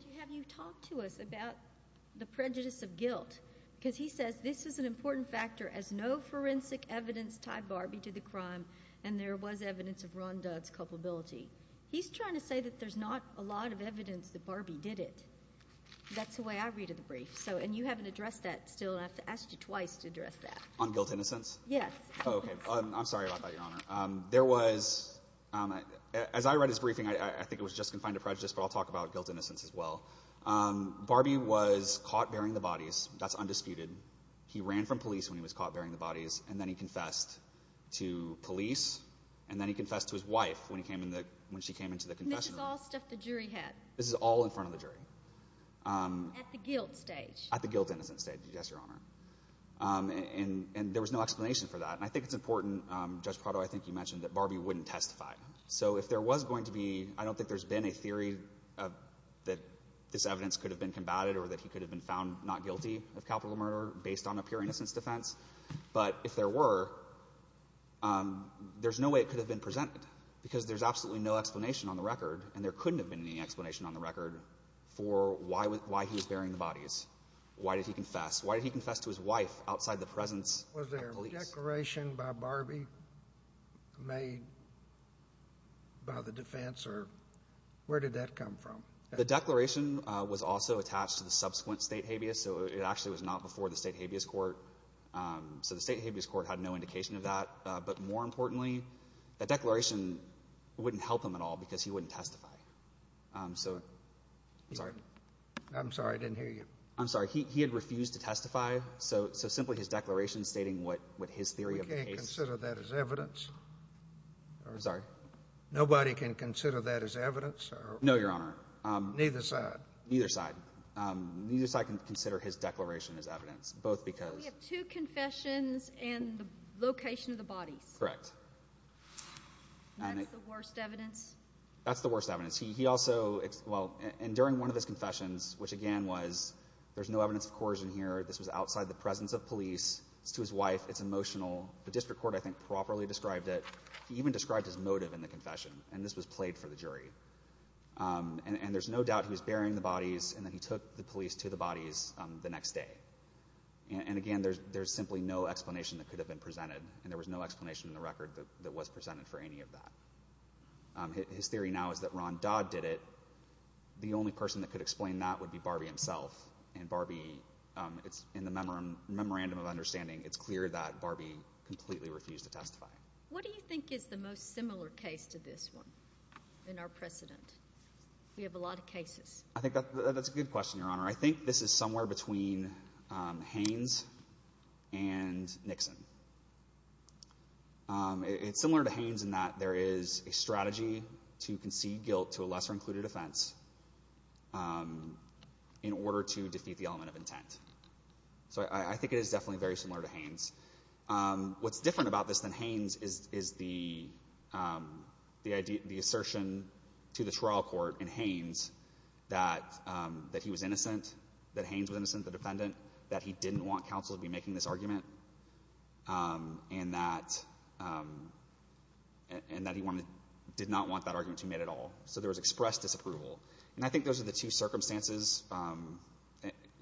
is an important factor, as no forensic evidence tied Barbie to the crime, and there was evidence of Ron Dodd's culpability. He's trying to say that there's not a lot of evidence that Barbie did it. That's the way I read of the brief. And you haven't addressed that still, and I have to ask you twice to address that. On guilt innocence? Yes. Oh, okay. I'm sorry about that, Your Honor. There was... As I read his briefing, I think it was just confined to prejudice, but I'll talk about guilt innocence as well. Barbie was caught burying the bodies. That's undisputed. He ran from police when he was caught burying the bodies, and then he confessed to police, and then he confessed to his wife when she came into the confessional. And this is all stuff the jury had? This is all in front of the jury. At the guilt stage? At the guilt innocence stage, yes, Your Honor. And there was no explanation for that. And I think it's important, Judge Prado, I think you mentioned that Barbie wouldn't testify. So if there was going to be... I don't think there's been a theory that this evidence could have been combated or that based on a pure innocence defense. But if there were, there's no way it could have been presented, because there's absolutely no explanation on the record, and there couldn't have been any explanation on the record for why he was burying the bodies. Why did he confess? Why did he confess to his wife outside the presence of police? Was there a declaration by Barbie made by the defense, or... Where did that come from? The declaration was also attached to the subsequent state habeas. So it actually was not before the state habeas court. So the state habeas court had no indication of that. But more importantly, the declaration wouldn't help him at all, because he wouldn't testify. So... I'm sorry. I'm sorry. I didn't hear you. I'm sorry. He had refused to testify. So simply his declaration stating what his theory of the case... We can't consider that as evidence? Sorry? Nobody can consider that as evidence? No, Your Honor. Neither side? Neither side. Neither side can consider his declaration as evidence, both because... So we have two confessions and the location of the bodies. Correct. And that's the worst evidence? That's the worst evidence. He also... Well, and during one of his confessions, which again was, there's no evidence of coercion here, this was outside the presence of police, it's to his wife, it's emotional. The district court, I think, properly described it. He even described his motive in the confession, and this was played for the jury. And there's no doubt he was burying the bodies, and then he took the police to the bodies the next day. And again, there's simply no explanation that could have been presented, and there was no explanation in the record that was presented for any of that. His theory now is that Ron Dodd did it. The only person that could explain that would be Barbie himself, and Barbie, in the memorandum of understanding, it's clear that Barbie completely refused to testify. What do you think is the most similar case to this one in our precedent? We have a lot of cases. I think that's a good question, Your Honor. I think this is somewhere between Haynes and Nixon. It's similar to Haynes in that there is a strategy to concede guilt to a lesser-included offense in order to defeat the element of intent. So I think it is definitely very similar to Haynes. What's different about this than Haynes is the assertion to the trial court in Haynes that he was innocent, that Haynes was innocent, the defendant, that he didn't want counsel to be making this argument, and that he did not want that argument to be made at all. So there was expressed disapproval. And I think those are the two circumstances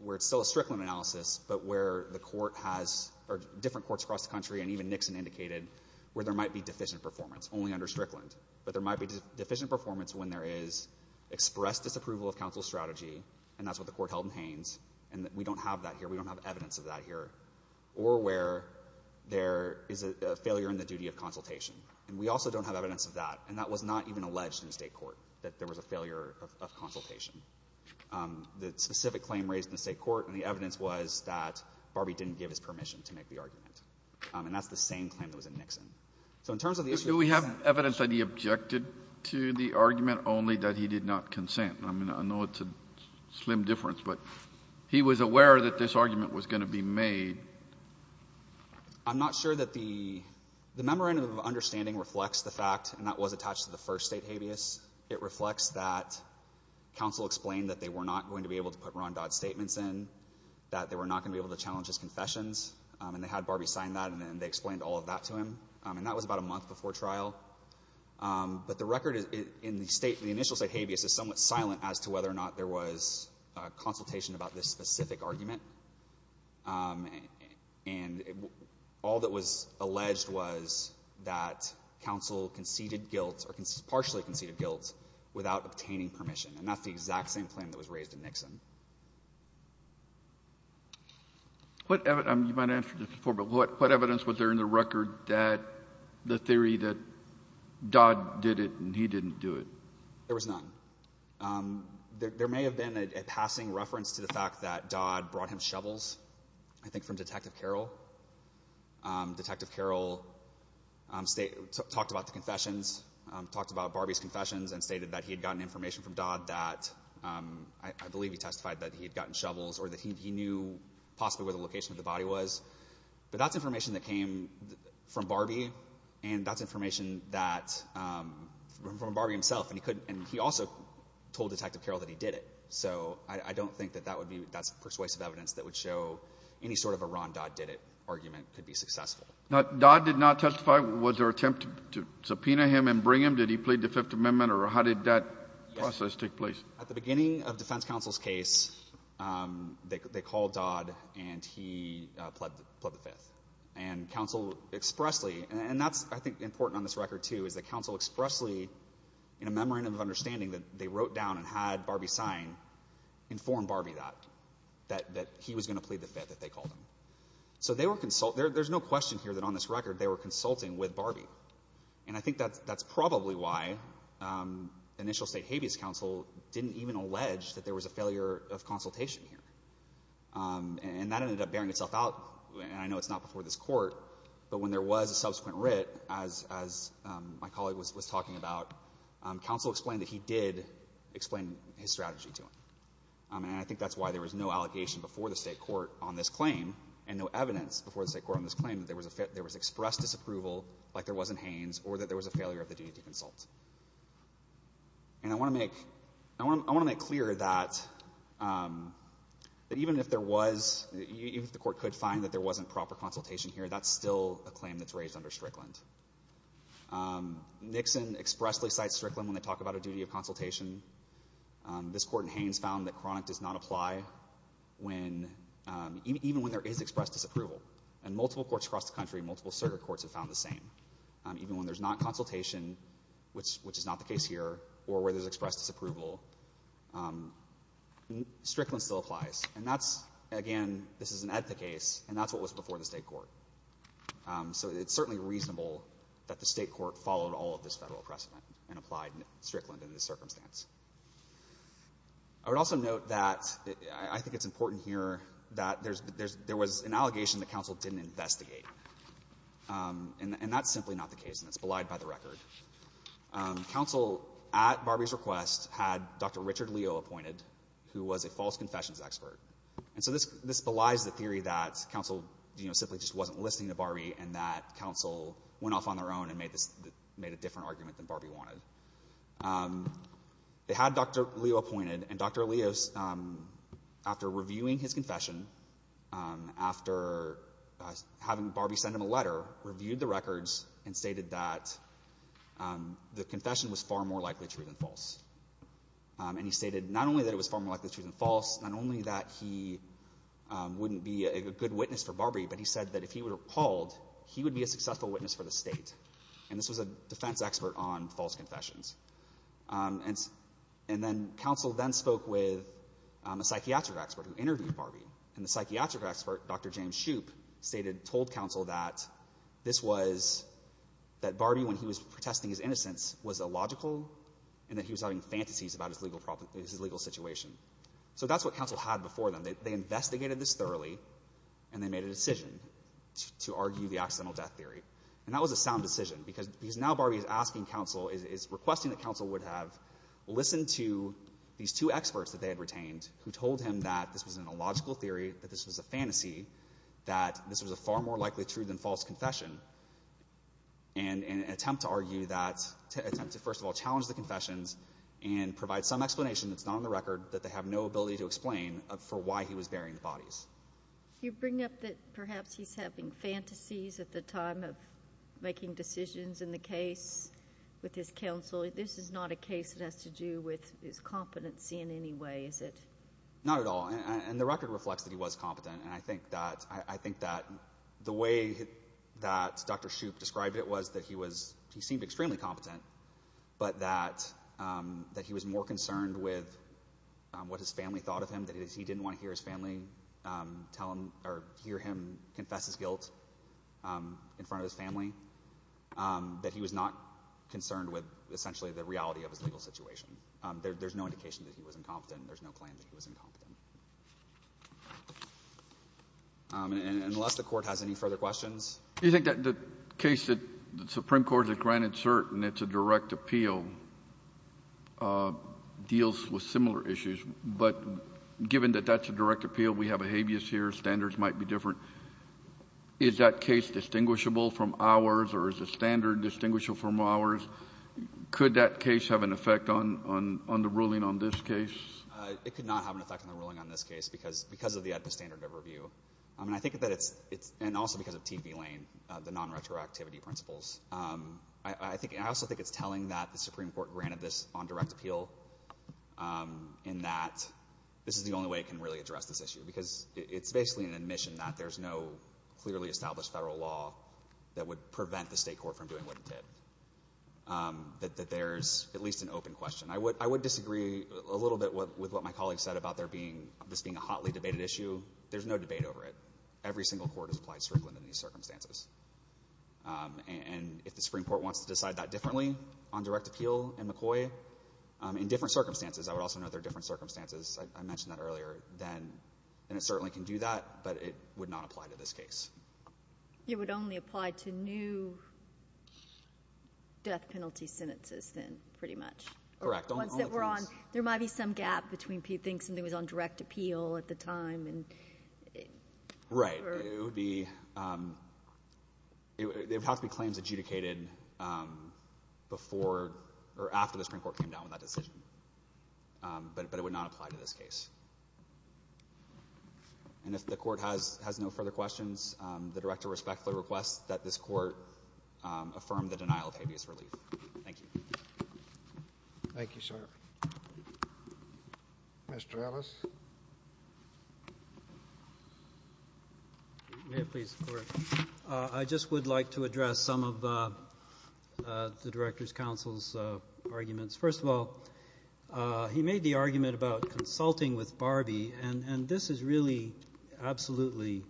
where it's still a Strickland analysis, but where the court has or different courts across the country and even Nixon indicated where there might be deficient performance, only under Strickland, but there might be deficient performance when there is expressed disapproval of counsel's strategy, and that's what the court held in Haynes, and we don't have that here. We don't have evidence of that here. Or where there is a failure in the duty of consultation, and we also don't have evidence of that, and that was not even alleged in the State court, that there was a failure of consultation. The specific claim raised in the State court and the evidence was that Barbee didn't give his permission to make the argument. And that's the same claim that was in Nixon. So in terms of the issue of consent. Kennedy. Do we have evidence that he objected to the argument, only that he did not consent? I mean, I know it's a slim difference, but he was aware that this argument was going to be made. I'm not sure that the memorandum of understanding reflects the fact, and that was attached to the first State habeas. It reflects that counsel explained that they were not going to be able to put Ron Dodd's statements in, that they were not going to be able to challenge his confessions, and they had Barbee sign that, and then they explained all of that to him. And that was about a month before trial. But the record in the State, the initial State habeas is somewhat silent as to whether or not there was consultation about this specific argument. And all that was alleged was that counsel conceded guilt, or partially conceded guilt, without obtaining permission. And that's the exact same claim that was raised in Nixon. You might have answered this before, but what evidence was there in the record that the theory that Dodd did it and he didn't do it? There was none. There may have been a passing reference to the fact that Dodd brought him shovels, I think from Detective Carroll. Detective Carroll talked about the confessions, talked about Barbee's confessions, and stated that he had gotten information from Dodd that, I believe he testified that he had gotten shovels, or that he knew possibly where the location of the body was. But that's information that came from Barbee, and that's information from Barbee himself. And he couldn't, and he also told Detective Carroll that he did it. So I don't think that that would be, that's persuasive evidence that would show any sort of a Ron Dodd did it argument could be successful. Now, Dodd did not testify. Was there an attempt to subpoena him and bring him? Did he plead the Fifth Amendment? Or how did that process take place? At the beginning of defense counsel's case, they called Dodd and he pled the Fifth. And counsel expressly, and that's, I think, important on this record, too, is that the memorandum of understanding that they wrote down and had Barbee sign informed Barbee that, that he was going to plead the Fifth, that they called him. So they were consulting. There's no question here that on this record they were consulting with Barbee. And I think that's probably why initial state habeas counsel didn't even allege that there was a failure of consultation here. And that ended up bearing itself out, and I know it's not before this Court, but when there was a subsequent writ, as my colleague was talking about, counsel explained that he did explain his strategy to him. And I think that's why there was no allegation before the State court on this claim and no evidence before the State court on this claim that there was expressed disapproval, like there was in Haynes, or that there was a failure of the duty to consult. And I want to make clear that even if there was, even if the Court could find that there wasn't proper consultation here, that's still a claim that's raised under Strickland. Nixon expressly cites Strickland when they talk about a duty of consultation. This Court in Haynes found that chronic does not apply when, even when there is expressed disapproval. And multiple courts across the country, multiple circuit courts have found the same. Even when there's not consultation, which is not the case here, or where there's expressed disapproval, Strickland still applies. And that's, again, this is an etha case, and that's what was before the State court. So it's certainly reasonable that the State court followed all of this Federal precedent and applied Strickland in this circumstance. I would also note that I think it's important here that there was an allegation that counsel didn't investigate. And that's simply not the case, and it's belied by the record. Counsel, at Barbie's request, had Dr. Richard Leo appointed, who was a false confessions expert. And so this belies the theory that counsel simply just wasn't listening to Barbie and that counsel went off on their own and made a different argument than Barbie wanted. They had Dr. Leo appointed, and Dr. Leo, after reviewing his confession, after having Barbie send him a letter, reviewed the records and stated that the confession was far more likely true than false. And he stated not only that it was far more likely true than false, not only that he wouldn't be a good witness for Barbie, but he said that if he were appalled, he would be a successful witness for the State. And this was a defense expert on false confessions. And then counsel then spoke with a psychiatric expert who interviewed Barbie. And the psychiatric expert, Dr. James Shoup, told counsel that this was, that Barbie, when he was protesting his innocence, was illogical and that he was having fantasies about his legal situation. So that's what counsel had before them. They investigated this thoroughly, and they made a decision to argue the accidental death theory. And that was a sound decision, because now Barbie is asking counsel, is requesting that counsel would have listened to these two experts that they had retained, who told him that this was an illogical theory, that this was a fantasy, that this was a far more likely true than false confession, and attempt to argue that, attempt to first of all challenge the confessions and provide some explanation that's not on the record, that they have no ability to explain for why he was burying the bodies. You bring up that perhaps he's having fantasies at the time of making decisions in the case with his counsel. This is not a case that has to do with his competency in any way, is it? Not at all. And the record reflects that he was competent. And I think that the way that Dr. Shoup described it was that he seemed extremely competent, but that he was more concerned with what his family thought of him, that he didn't want to hear his family tell him or hear him confess his guilt in front of his family, that he was not concerned with essentially the reality of his legal situation. There's no indication that he was incompetent. There's no claim that he was incompetent. Unless the Court has any further questions. Do you think that the case that the Supreme Court has granted cert, and it's a direct appeal, deals with similar issues? But given that that's a direct appeal, we have a habeas here, standards might be different. Is that case distinguishable from ours, or is the standard distinguishable from ours? Could that case have an effect on the ruling on this case? It could not have an effect on the ruling on this case because of the AEDPA standard of review. I mean, I think that it's, and also because of T.V. Lane, the non-retroactivity principles. I also think it's telling that the Supreme Court granted this on direct appeal, and that this is the only way it can really address this issue, because it's basically an admission that there's no clearly established federal law that would prevent the State Court from doing what it did. That there's at least an open question. I would disagree a little bit with what my colleague said about there being, this being a hotly debated issue. There's no debate over it. Every single court has applied Strickland in these circumstances. And if the Supreme Court wants to decide that differently on direct appeal in McCoy, in different circumstances, I would also note there are different circumstances, I mentioned that earlier, then, and it certainly can do that, but it would not apply to this case. You would only apply to new death penalty sentences, then, pretty much? Correct. There might be some gap between people who think something was on direct appeal at the time. Right. It would have to be claims adjudicated before or after the Supreme Court came down with that decision. But it would not apply to this case. And if the Court has no further questions, the Director respectfully requests that this Court affirm the denial of habeas relief. Thank you. Thank you, sir. Mr. Ellis? May it please the Court. I just would like to address some of the Director's counsel's arguments. First of all, he made the argument about consulting with Barbie, and this is really absolutely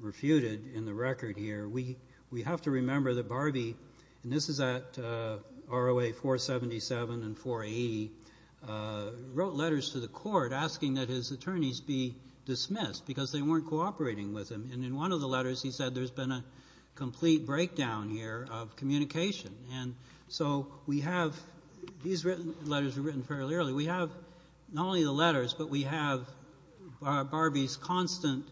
refuted in the record here. We have to remember that Barbie, and this is at ROA 477 and 480, wrote letters to the Court asking that his attorneys be dismissed because they weren't cooperating with him. And in one of the letters, he said there's been a complete breakdown here of communication. And so we have these written letters were written fairly early. We have not only the letters, but we have Barbie's constant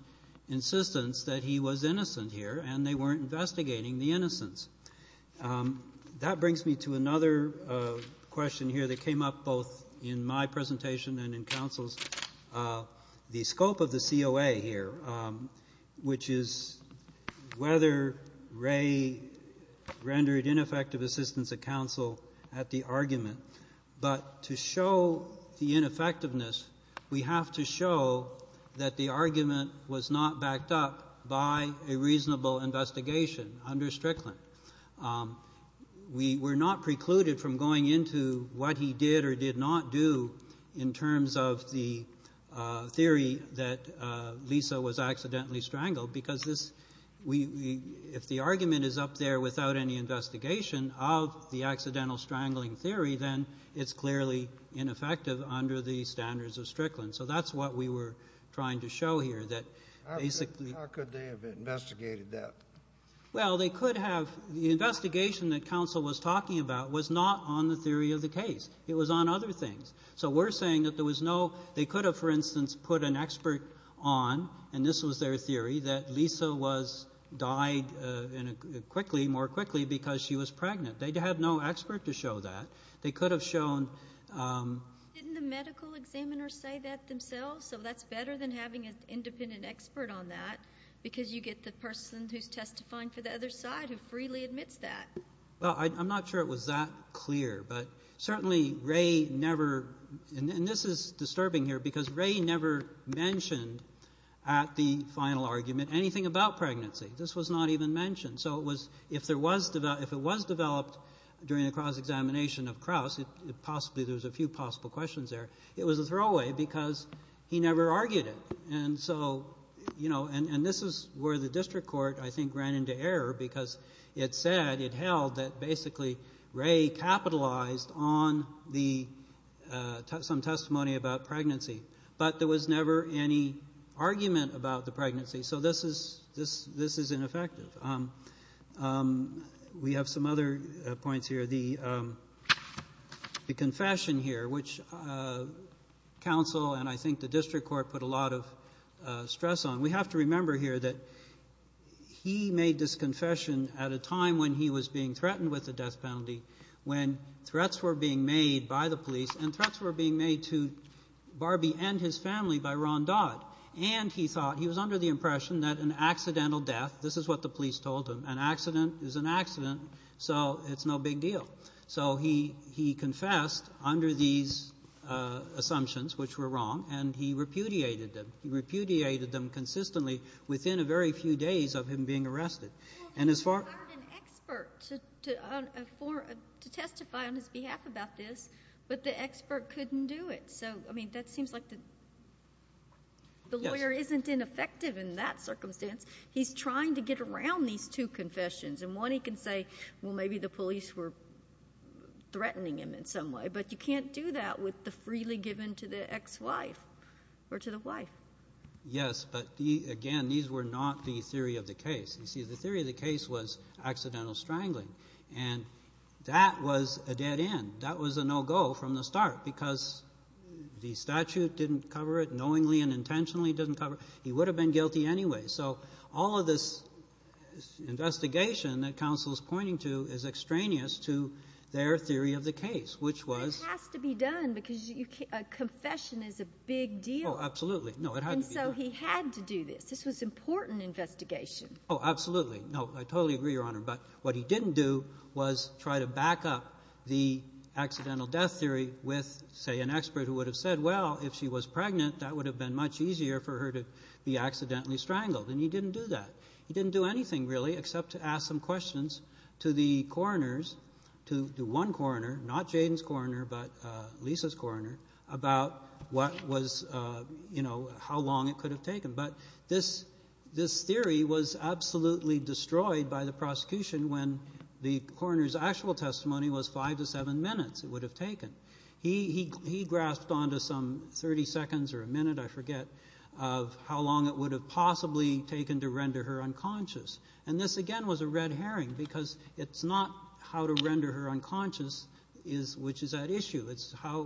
insistence that he was innocent here, and they weren't investigating the innocence. That brings me to another question here that came up both in my presentation and in counsel's, the scope of the COA here, which is whether Ray rendered ineffective assistance of counsel at the argument. But to show the ineffectiveness, we have to show that the argument was not backed up by a reasonable investigation under Strickland. We were not precluded from going into what he did or did not do in terms of the theory that Lisa was accidentally strangled, because if the argument is up there without any investigation of the accidental strangling theory, then it's clearly ineffective under the standards of Strickland. So that's what we were trying to show here, that basically — How could they have investigated that? Well, they could have. The investigation that counsel was talking about was not on the theory of the case. It was on other things. So we're saying that there was no — they could have, for instance, put an expert on, and this was their theory, that Lisa died quickly, more quickly, because she was pregnant. They had no expert to show that. They could have shown — Didn't the medical examiners say that themselves? So that's better than having an independent expert on that, because you get the person who's testifying for the other side who freely admits that. Well, I'm not sure it was that clear. But certainly Ray never — and this is disturbing here, because Ray never mentioned at the final argument anything about pregnancy. This was not even mentioned. So if it was developed during the cross-examination of Crouse, possibly there was a few possible questions there, it was a throwaway because he never argued it. And so, you know, and this is where the district court, I think, ran into error, because it said, it held that basically Ray capitalized on some testimony about pregnancy, but there was never any argument about the pregnancy. So this is ineffective. We have some other points here. The confession here, which counsel and I think the district court put a lot of stress on, we have to remember here that he made this confession at a time when he was being threatened with a death penalty, when threats were being made by the police and threats were being made to Barbie and his family by Ron Dodd. And he thought, he was under the impression that an accidental death, this is what the police told him, an accident is an accident, so it's no big deal. So he confessed under these assumptions, which were wrong, and he repudiated them. He repudiated them consistently within a very few days of him being arrested. And as far as an expert to testify on his behalf about this, but the expert couldn't do it. So, I mean, that seems like the lawyer isn't ineffective in that circumstance. He's trying to get around these two confessions. And one he can say, well, maybe the police were threatening him in some way, but you can't do that with the freely given to the ex-wife or to the wife. Yes, but, again, these were not the theory of the case. You see, the theory of the case was accidental strangling, and that was a dead end. That was a no-go from the start because the statute didn't cover it, knowingly and intentionally didn't cover it. He would have been guilty anyway. So all of this investigation that counsel is pointing to is extraneous to their theory of the case, which was... It has to be done because a confession is a big deal. Oh, absolutely. No, it had to be done. And so he had to do this. This was important investigation. Oh, absolutely. No, I totally agree, Your Honor, but what he didn't do was try to back up the accidental death theory with, say, an expert who would have said, well, if she was pregnant, that would have been much easier for her to be accidentally strangled, and he didn't do that. He didn't do anything, really, except to ask some questions to the coroners, to one coroner, not Jayden's coroner, but Lisa's coroner, about what was, you know, how long it could have taken. But this theory was absolutely destroyed by the prosecution when the coroner's actual testimony was five to seven minutes it would have taken. He grasped onto some 30 seconds or a minute, I forget, of how long it would have possibly taken to render her unconscious. And this, again, was a red herring because it's not how to render her unconscious which is at issue. It's how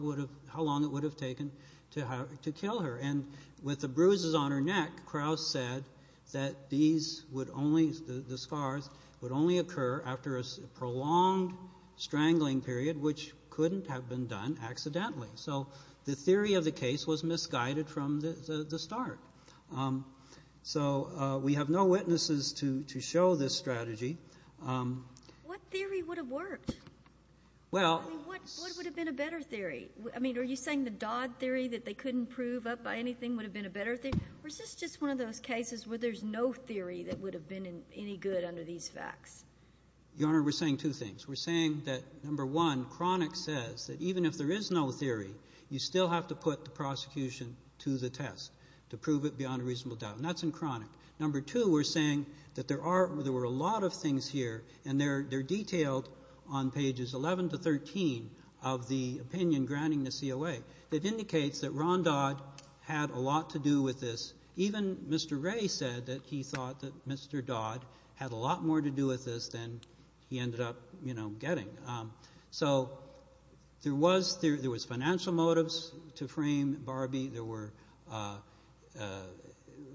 long it would have taken to kill her. And with the bruises on her neck, Krauss said that these would only, the scars, would only occur after a prolonged strangling period which couldn't have been done accidentally. So the theory of the case was misguided from the start. So we have no witnesses to show this strategy. What theory would have worked? I mean, what would have been a better theory? I mean, are you saying the Dodd theory that they couldn't prove up by anything would have been a better theory, or is this just one of those cases where there's no theory that would have been any good under these facts? Your Honor, we're saying two things. We're saying that, number one, Cronick says that even if there is no theory, you still have to put the prosecution to the test to prove it beyond a reasonable doubt, and that's in Cronick. Number two, we're saying that there were a lot of things here, and they're detailed on pages 11 to 13 of the opinion granting the COA. It indicates that Ron Dodd had a lot to do with this. Even Mr. Ray said that he thought that Mr. Dodd had a lot more to do with this than he ended up getting. So there was financial motives to frame Barbie.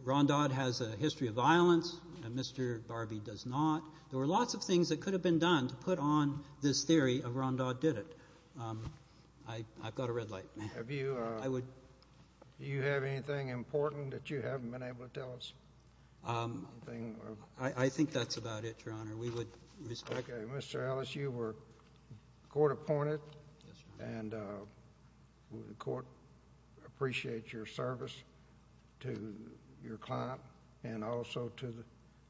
Ron Dodd has a history of violence, and Mr. Barbie does not. There were lots of things that could have been done to put on this theory of Ron Dodd did it. I've got a red light. Do you have anything important that you haven't been able to tell us? I think that's about it, Your Honor. Mr. Ellis, you were court-appointed, and the court appreciates your service to your client and also to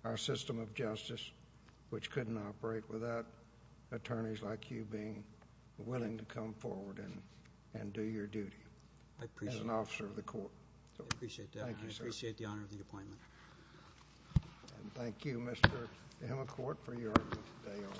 our system of justice, which couldn't operate without attorneys like you being willing to come forward and do your duty as an officer of the court. I appreciate that. Thank you, sir. I appreciate the honor of the appointment. And thank you, Mr. Hemelcourt, for your argument today also.